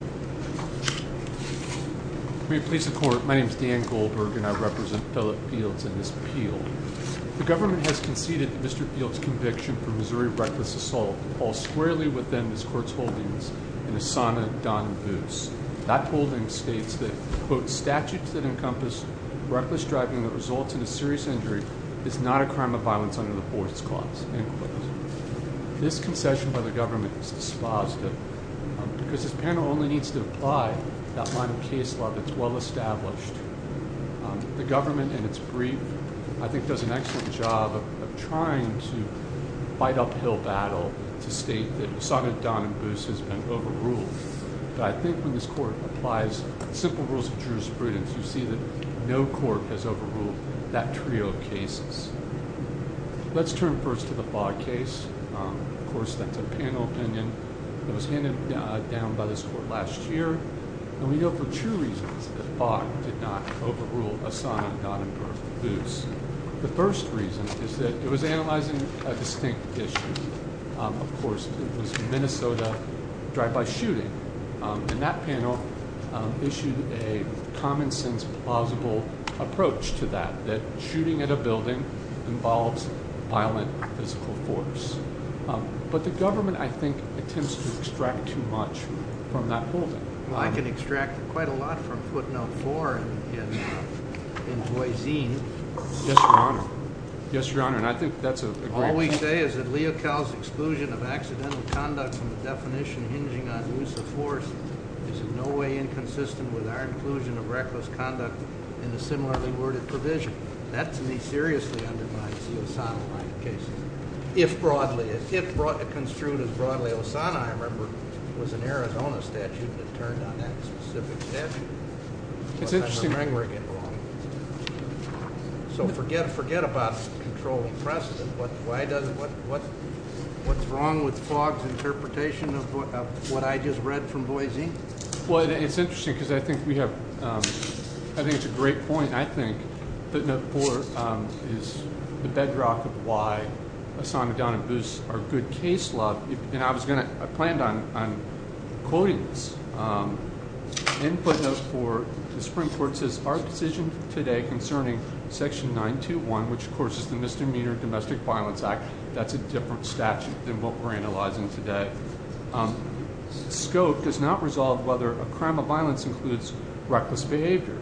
The government has conceded that Mr. Fields' conviction for Missouri reckless assault falls squarely within this Court's holdings in Asana Donbus. That holding states that, quote, statutes that encompass reckless driving that results in a serious injury is not a crime of violence under the Fourth Clause, end quote. This concession by the government is dispositive because this panel only needs to apply that line of case law that's well-established. The government, in its brief, I think does an excellent job of trying to fight uphill battle to state that Asana Donbus has been overruled. But I think when this Court applies simple rules of jurisprudence, you see that no court has overruled that trio of cases. Let's turn first to the Fogg case. Of course, that's a panel opinion that was handed down by this Court last year. And we know for two reasons that Fogg did not overrule Asana Donbus. The first reason is that it was analyzing a distinct issue. Of course, it was Minnesota drive-by shooting. And that panel issued a common-sense, plausible approach to that, that shooting at a building involves violent physical force. But the government, I think, attempts to extract too much from that holding. Well, I can extract quite a lot from footnote 4 in Boise. Yes, Your Honor. Yes, Your Honor. And I think that's a great— All we say is that Leocal's exclusion of accidental conduct from the definition hinging on use of force is in no way inconsistent with our inclusion of reckless conduct in a similarly worded provision. That, to me, seriously undermines the Asana-like cases. If broadly—if construed as broadly Asana, I remember, was an Arizona statute that turned on that specific statute. It's interesting— So forget about controlling precedent. What's wrong with Fogg's interpretation of what I just read from Boise? Well, it's interesting because I think we have—I think it's a great point. I think footnote 4 is the bedrock of why Asana Donbus, our good case law— concerning Section 921, which, of course, is the Misdemeanor Domestic Violence Act. That's a different statute than what we're analyzing today. Scope does not resolve whether a crime of violence includes reckless behavior.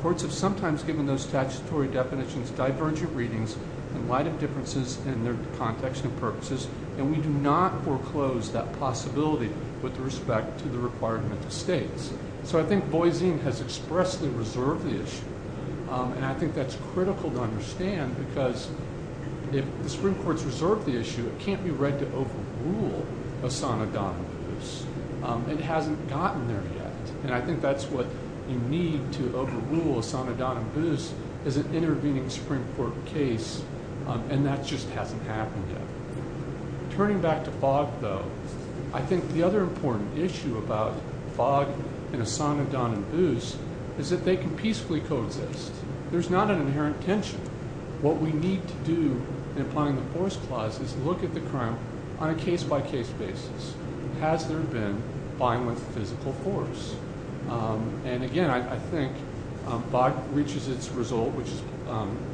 Courts have sometimes given those statutory definitions divergent readings in light of differences in their context and purposes, and we do not foreclose that possibility with respect to the requirement of states. So I think Boise has expressly reserved the issue, and I think that's critical to understand because if the Supreme Court's reserved the issue, it can't be read to overrule Asana Donbus. It hasn't gotten there yet, and I think that's what you need to overrule. Asana Donbus is an intervening Supreme Court case, and that just hasn't happened yet. Turning back to Fogg, though, I think the other important issue about Fogg and Asana Donbus is that they can peacefully coexist. There's not an inherent tension. What we need to do in applying the Force Clause is look at the crime on a case-by-case basis. Has there been violent physical force? And again, I think Fogg reaches its result, which is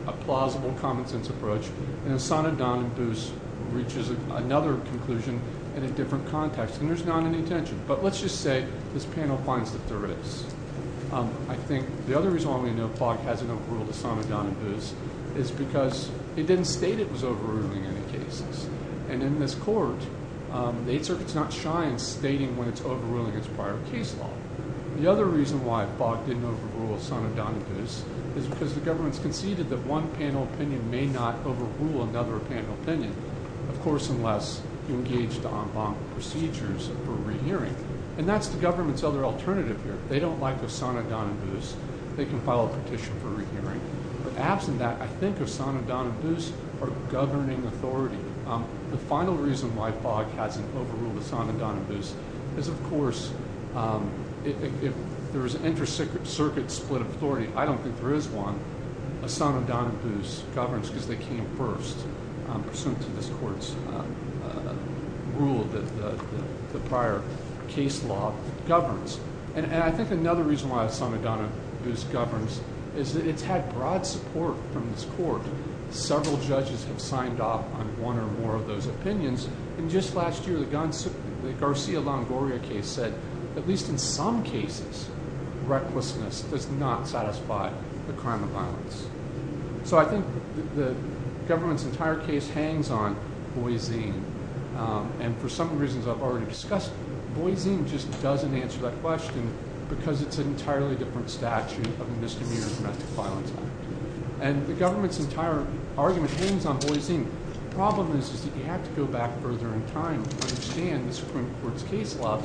a plausible common-sense approach, and Asana Donbus reaches another conclusion in a different context, and there's not any tension. But let's just say this panel finds that there is. I think the other reason why we know Fogg hasn't overruled Asana Donbus is because he didn't state it was overruling any cases. And in this Court, the Eighth Circuit's not shy in stating when it's overruling its prior case law. The other reason why Fogg didn't overrule Asana Donbus is because the government's conceded that one panel opinion may not overrule another panel opinion, of course, unless you engage the en banc procedures for rehearing. And that's the government's other alternative here. They don't like Asana Donbus. They can file a petition for rehearing. But absent that, I think Asana Donbus or governing authority. The final reason why Fogg hasn't overruled Asana Donbus is, of course, if there is an inter-circuit split of authority, I don't think there is one, Asana Donbus governs because they came first pursuant to this Court's rule that the prior case law governs. And I think another reason why Asana Donbus governs is that it's had broad support from this Court. Several judges have signed off on one or more of those opinions. And just last year, the Garcia-Longoria case said, at least in some cases, recklessness does not satisfy the crime of violence. So I think the government's entire case hangs on boyzine. And for some reasons I've already discussed, boyzine just doesn't answer that question, because it's an entirely different statute of the Misdemeanor Domestic Violence Act. And the government's entire argument hangs on boyzine. The problem is that you have to go back further in time to understand this Supreme Court's case law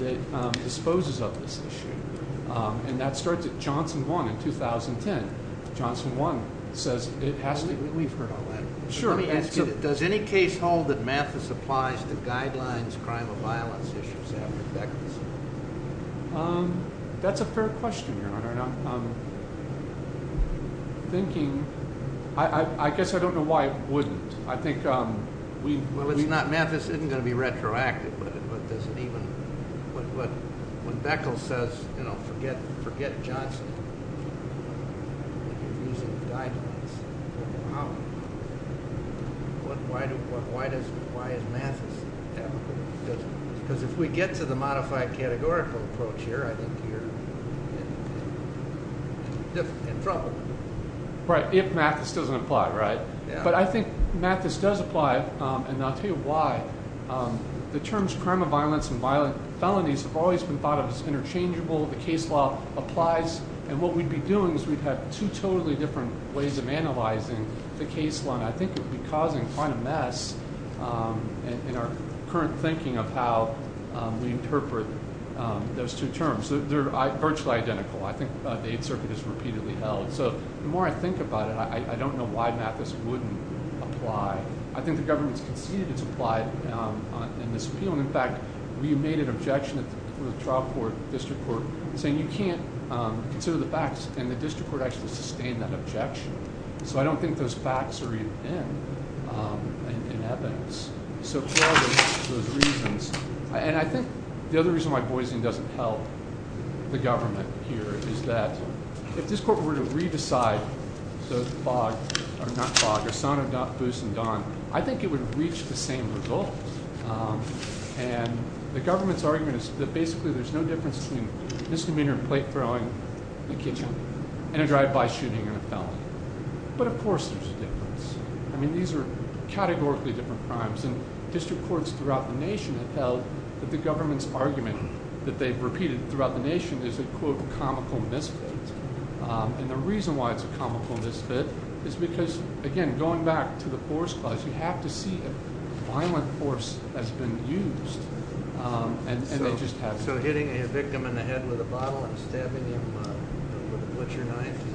that disposes of this issue. And that starts at Johnson 1 in 2010. Johnson 1 says it has to be – We've heard all that. Sure. Does any case hold that Mathis applies the guidelines crime of violence issues after Beckles? That's a fair question, Your Honor. And I'm thinking – I guess I don't know why it wouldn't. I think we – Well, it's not – Mathis isn't going to be retroactive. But does it even – when Beckles says, you know, forget Johnson, you're using the guidelines. Wow. Why is Mathis – because if we get to the modified categorical approach here, I think you're in trouble. Right, if Mathis doesn't apply, right? But I think Mathis does apply, and I'll tell you why. The terms crime of violence and violent felonies have always been thought of as interchangeable. The case law applies. And what we'd be doing is we'd have two totally different ways of analyzing the case law, and I think it would be causing quite a mess in our current thinking of how we interpret those two terms. They're virtually identical. I think the Eighth Circuit has repeatedly held. So the more I think about it, I don't know why Mathis wouldn't apply. I think the government has conceded it's applied in this appeal. In fact, we made an objection at the trial court, district court, saying you can't consider the facts, and the district court actually sustained that objection. So I don't think those facts are even in evidence. So part of those reasons – and I think the other reason why Boise doesn't help the government here is that if this court were to re-decide Osana, Boose, and Don, I think it would reach the same result. And the government's argument is that basically there's no difference between a misdemeanor in plate-throwing in a kitchen and a drive-by shooting in a felony. But, of course, there's a difference. I mean, these are categorically different crimes, and district courts throughout the nation have held that the government's argument that they've repeated throughout the nation is a, quote, comical misfit. And the reason why it's a comical misfit is because, again, going back to the force clause, you have to see if violent force has been used, and they just haven't. So hitting a victim in the head with a bottle and stabbing him with a butcher knife is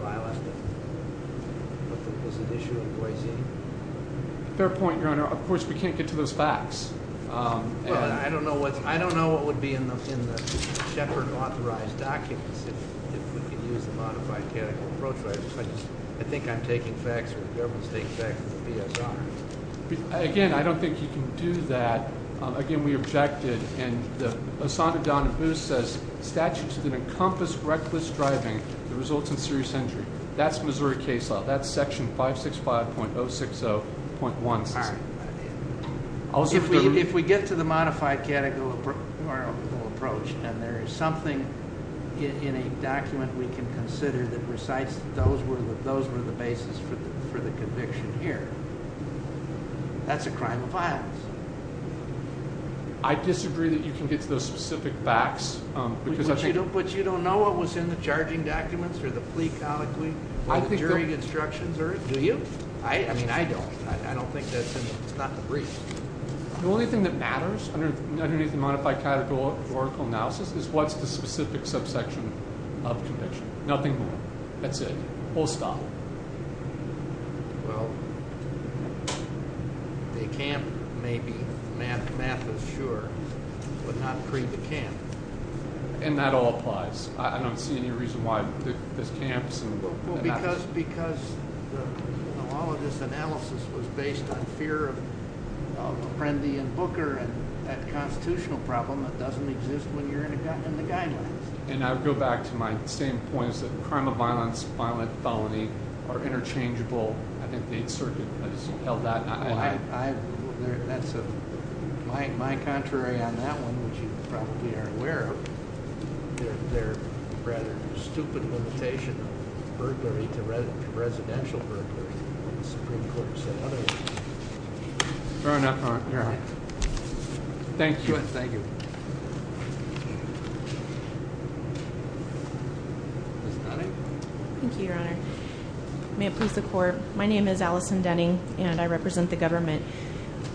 violent? Is it an issue in Boise? Fair point, Your Honor. Of course, we can't get to those facts. Well, I don't know what would be in the Shepard-authorized documents if we could use the modified categorical approach. I think I'm taking facts or the government's taking facts from the PSR. Again, I don't think you can do that. Again, we objected, and Osana, Don, and Boose says statutes that encompass reckless driving that results in serious injury. That's Missouri case law. That's Section 565.060.1. If we get to the modified categorical approach and there is something in a document we can consider that recites those were the basis for the conviction here, that's a crime of violence. I disagree that you can get to those specific facts. But you don't know what was in the charging documents or the plea colloquy or the jury instructions, do you? I mean, I don't. I don't think that's in them. It's not the brief. The only thing that matters underneath the modified categorical analysis is what's the specific subsection of conviction. Nothing more. That's it. Full stop. Well, the camp may be, math is sure, but not pre-the-camp. And that all applies. I don't see any reason why there's camps. Because all of this analysis was based on fear of Prendi and Booker and that constitutional problem that doesn't exist when you're in the guidelines. And I would go back to my same points that crime of violence, violent felony are interchangeable. I think the 8th Circuit has held that. That's my contrary on that one, which you probably are aware of. They're rather stupid limitation of burglary to residential burglary. The Supreme Court said otherwise. Fair enough, Your Honor. Thank you. Thank you. Ms. Denning? Thank you, Your Honor. May it please the Court. My name is Allison Denning, and I represent the government.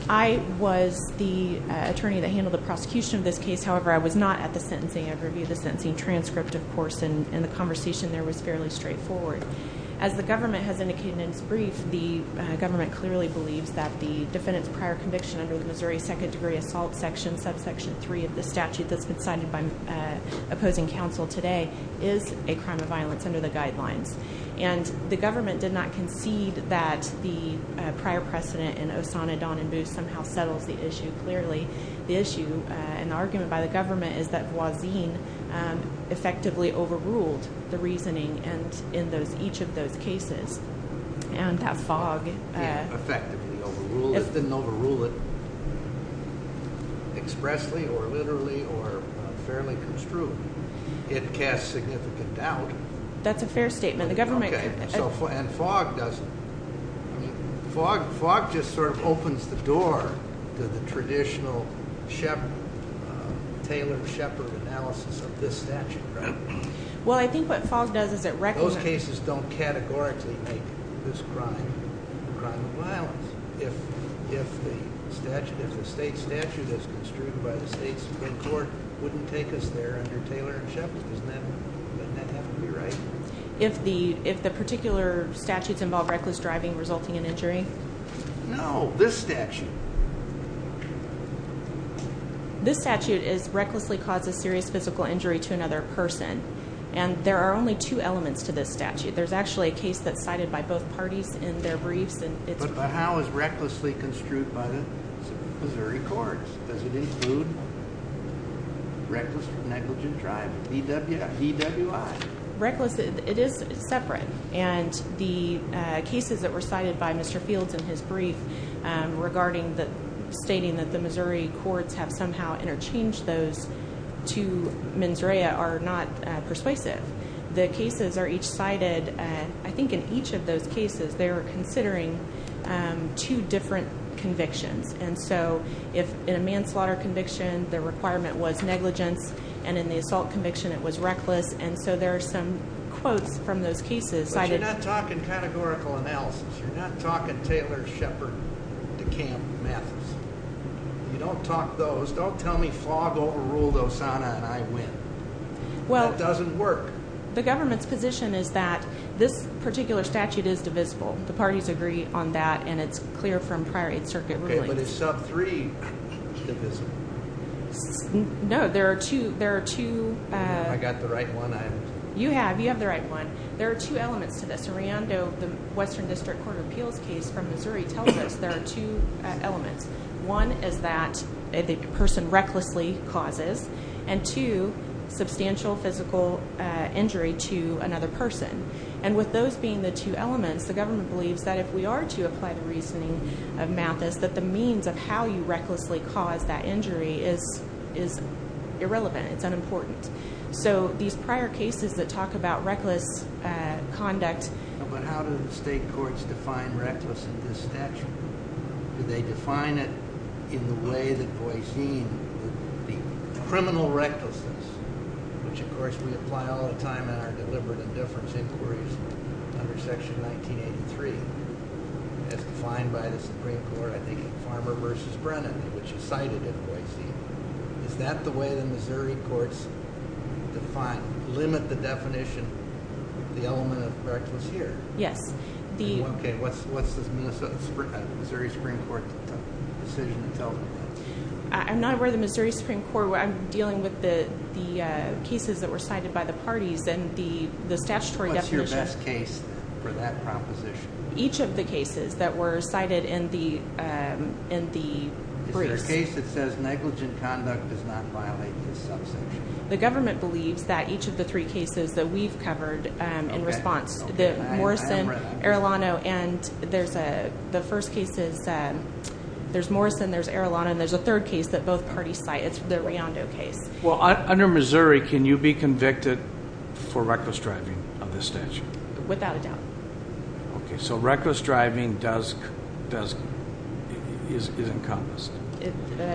I was the attorney that handled the prosecution of this case. However, I was not at the sentencing. I reviewed the sentencing transcript, of course, and the conversation there was fairly straightforward. As the government has indicated in its brief, the government clearly believes that the defendant's prior conviction under the Missouri second-degree assault section, subsection 3 of the statute that's been cited by opposing counsel today, is a crime of violence under the guidelines. And the government did not concede that the prior precedent in Osana, Don, and Booth somehow settles the issue clearly. The issue and argument by the government is that Voisin effectively overruled the reasoning in each of those cases. And that fog. Effectively overruled. It didn't overrule it expressly or literally or fairly construed. It casts significant doubt. That's a fair statement. The government- Okay. And fog doesn't. Fog just sort of opens the door to the traditional Taylor and Shepard analysis of this statute, right? Well, I think what fog does is it recommends- Those cases don't categorically make this a crime of violence. If the state statute as construed by the state Supreme Court wouldn't take us there under Taylor and Shepard, doesn't that have to be right? If the particular statutes involve reckless driving resulting in injury? No, this statute. This statute recklessly causes serious physical injury to another person. And there are only two elements to this statute. There's actually a case that's cited by both parties in their briefs. But the how is recklessly construed by the Missouri Courts. Does it include reckless or negligent driving, DWI? Reckless. It is separate. And the cases that were cited by Mr. Fields in his brief regarding the stating that the Missouri Courts have somehow interchanged those two mens rea are not persuasive. The cases are each cited. I think in each of those cases, they were considering two different convictions. And so in a manslaughter conviction, the requirement was negligence. And in the assault conviction, it was reckless. And so there are some quotes from those cases cited- But you're not talking categorical analysis. You're not talking Taylor, Shepard, DeKalb, Mathis. You don't talk those. Don't tell me fog overruled Osana and I win. That doesn't work. The government's position is that this particular statute is divisible. The parties agree on that, and it's clear from prior Eighth Circuit rulings. Okay, but is sub three divisible? No, there are two- I got the right one. You have. You have the right one. There are two elements to this. Ariando, the Western District Court of Appeals case from Missouri, tells us there are two elements. One is that the person recklessly causes. And two, substantial physical injury to another person. And with those being the two elements, the government believes that if we are to apply the reasoning of Mathis, that the means of how you recklessly cause that injury is irrelevant. It's unimportant. So these prior cases that talk about reckless conduct- But how do the state courts define reckless in this statute? Do they define it in the way that Boise, the criminal recklessness, which of course we apply all the time in our deliberate indifference inquiries under Section 1983, as defined by the Supreme Court, I think, in Farmer v. Brennan, which is cited in Boise. Is that the way the Missouri courts define, limit the definition of the element of reckless here? Yes. Okay, what's the Missouri Supreme Court decision that tells me that? I'm not aware of the Missouri Supreme Court. I'm dealing with the cases that were cited by the parties. And the statutory definition- What's your best case for that proposition? Each of the cases that were cited in the briefs. Is there a case that says negligent conduct does not violate this subsection? The government believes that each of the three cases that we've covered in response. Morrison, Arilano, and there's a- The first case is there's Morrison, there's Arilano, and there's a third case that both parties cite. It's the Riondo case. Well, under Missouri, can you be convicted for reckless driving of this statute? Without a doubt. Okay, so reckless driving is encompassed.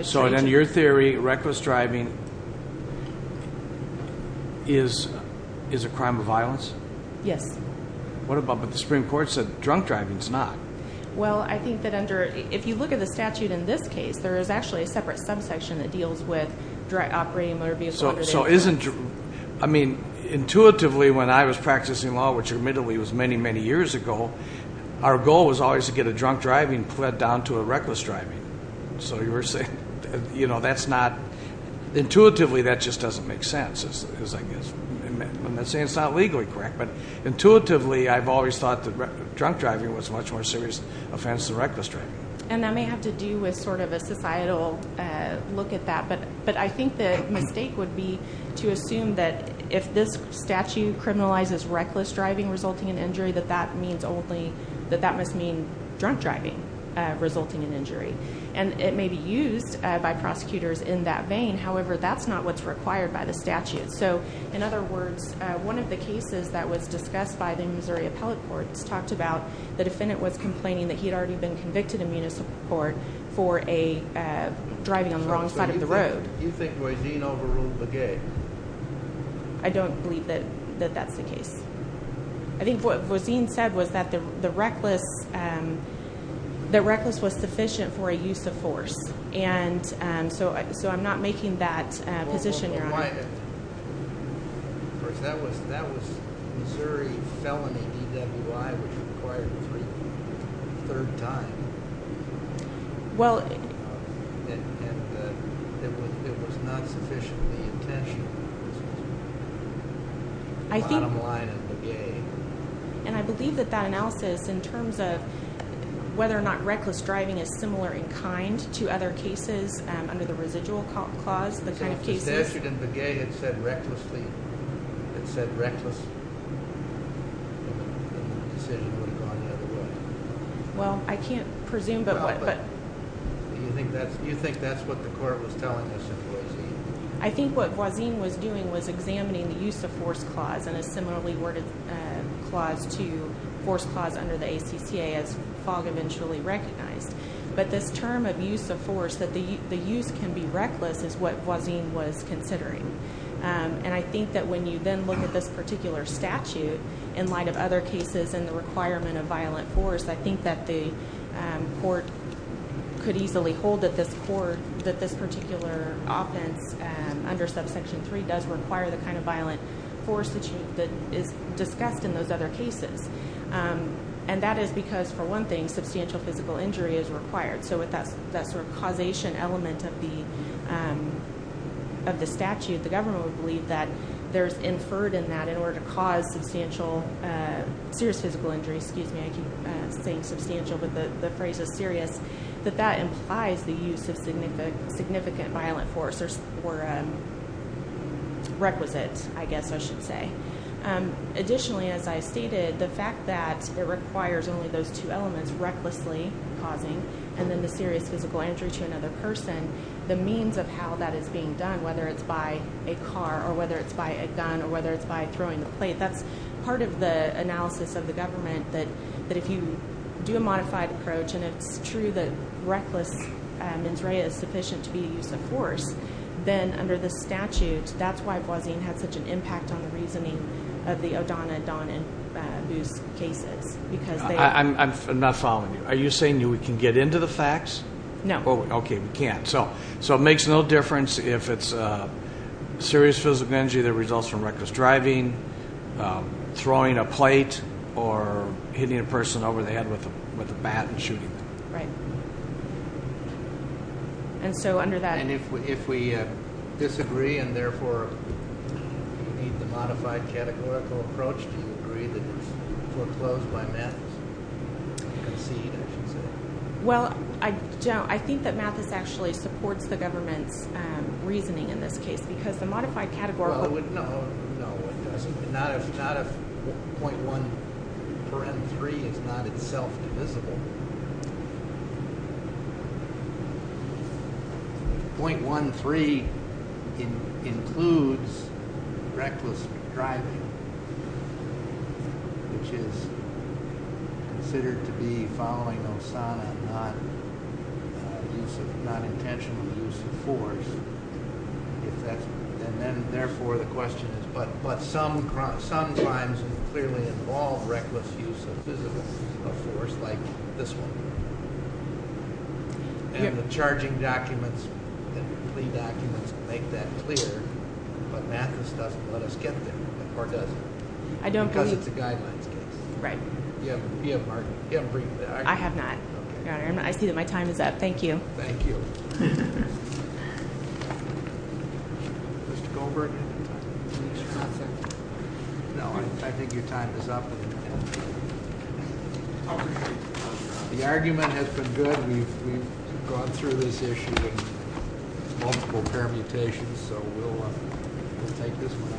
So in your theory, reckless driving is a crime of violence? Yes. What about when the Supreme Court said drunk driving's not? Well, I think that under- if you look at the statute in this case, there is actually a separate subsection that deals with direct operating motor vehicle- So isn't- I mean, intuitively, when I was practicing law, which admittedly was many, many years ago, our goal was always to get a drunk driving pled down to a reckless driving. So you were saying, you know, that's not- Intuitively, that just doesn't make sense. I'm not saying it's not legally correct, but intuitively, I've always thought that drunk driving was a much more serious offense than reckless driving. And that may have to do with sort of a societal look at that, but I think the mistake would be to assume that if this statute criminalizes reckless driving resulting in injury, that that means only- that that must mean drunk driving resulting in injury. And it may be used by prosecutors in that vein. However, that's not what's required by the statute. So, in other words, one of the cases that was discussed by the Missouri Appellate Courts talked about the defendant was complaining that he had already been convicted in municipal court for a- driving on the wrong side of the road. So you think Voisin overruled the gay? I don't believe that that's the case. I think what Voisin said was that the reckless- that reckless was sufficient for a use of force. And so I'm not making that position. Well, why- of course, that was Missouri felony DWI, which required three- third time. Well- And it was not sufficiently intentional. I think- Bottom line of the game. And I believe that that analysis in terms of whether or not reckless driving is similar in kind to other cases under the residual clause, the kind of cases- If the statute in the gay had said recklessly- had said reckless, then the decision would have gone the other way. Well, I can't presume, but- Right, but do you think that's- do you think that's what the court was telling us in Voisin? I think what Voisin was doing was examining the use of force clause and a similarly worded clause to force clause under the ACCA as Fogg eventually recognized. But this term of use of force, that the use can be reckless, is what Voisin was considering. And I think that when you then look at this particular statute, in light of other cases and the requirement of violent force, I think that the court could easily hold that this particular offense under subsection 3 does require the kind of violent force that is discussed in those other cases. And that is because, for one thing, substantial physical injury is required. So with that sort of causation element of the statute, the government would believe that there's inferred in that in order to cause substantial- excuse me, I keep saying substantial, but the phrase is serious- that that implies the use of significant violent force or requisite, I guess I should say. Additionally, as I stated, the fact that it requires only those two elements, recklessly causing and then the serious physical injury to another person, the means of how that is being done, whether it's by a car or whether it's by a gun or whether it's by throwing the plate, that's part of the analysis of the government, that if you do a modified approach and it's true that reckless mens rea is sufficient to be a use of force, then under the statute, that's why Voisin had such an impact on the reasoning of the O'Donoghue and Booth cases. I'm not following you. Are you saying we can get into the facts? No. Okay, we can't. So it makes no difference if it's serious physical injury that results from reckless driving, throwing a plate, or hitting a person over the head with a bat and shooting them. Right. And so under that- And if we disagree and therefore need the modified categorical approach, do you agree that it's foreclosed by math? Concede, I should say. Well, I think that math actually supports the government's reasoning in this case because the modified categorical- No, it doesn't. Not if .1 for M3 is not itself divisible. .13 includes reckless driving, which is considered to be following Osana, not intentional use of force. And then, therefore, the question is, but some crimes clearly involve reckless use of physical force, like this one. And the charging documents and plea documents make that clear, but math just doesn't let us get there, or does it? I don't believe- Because it's a guidelines case. Right. You haven't- I have not, Your Honor. I see that my time is up. Thank you. Thank you. Mr. Goldberg? No, I think your time is up. The argument has been good. We've gone through this issue in multiple permutations, so we'll take this one.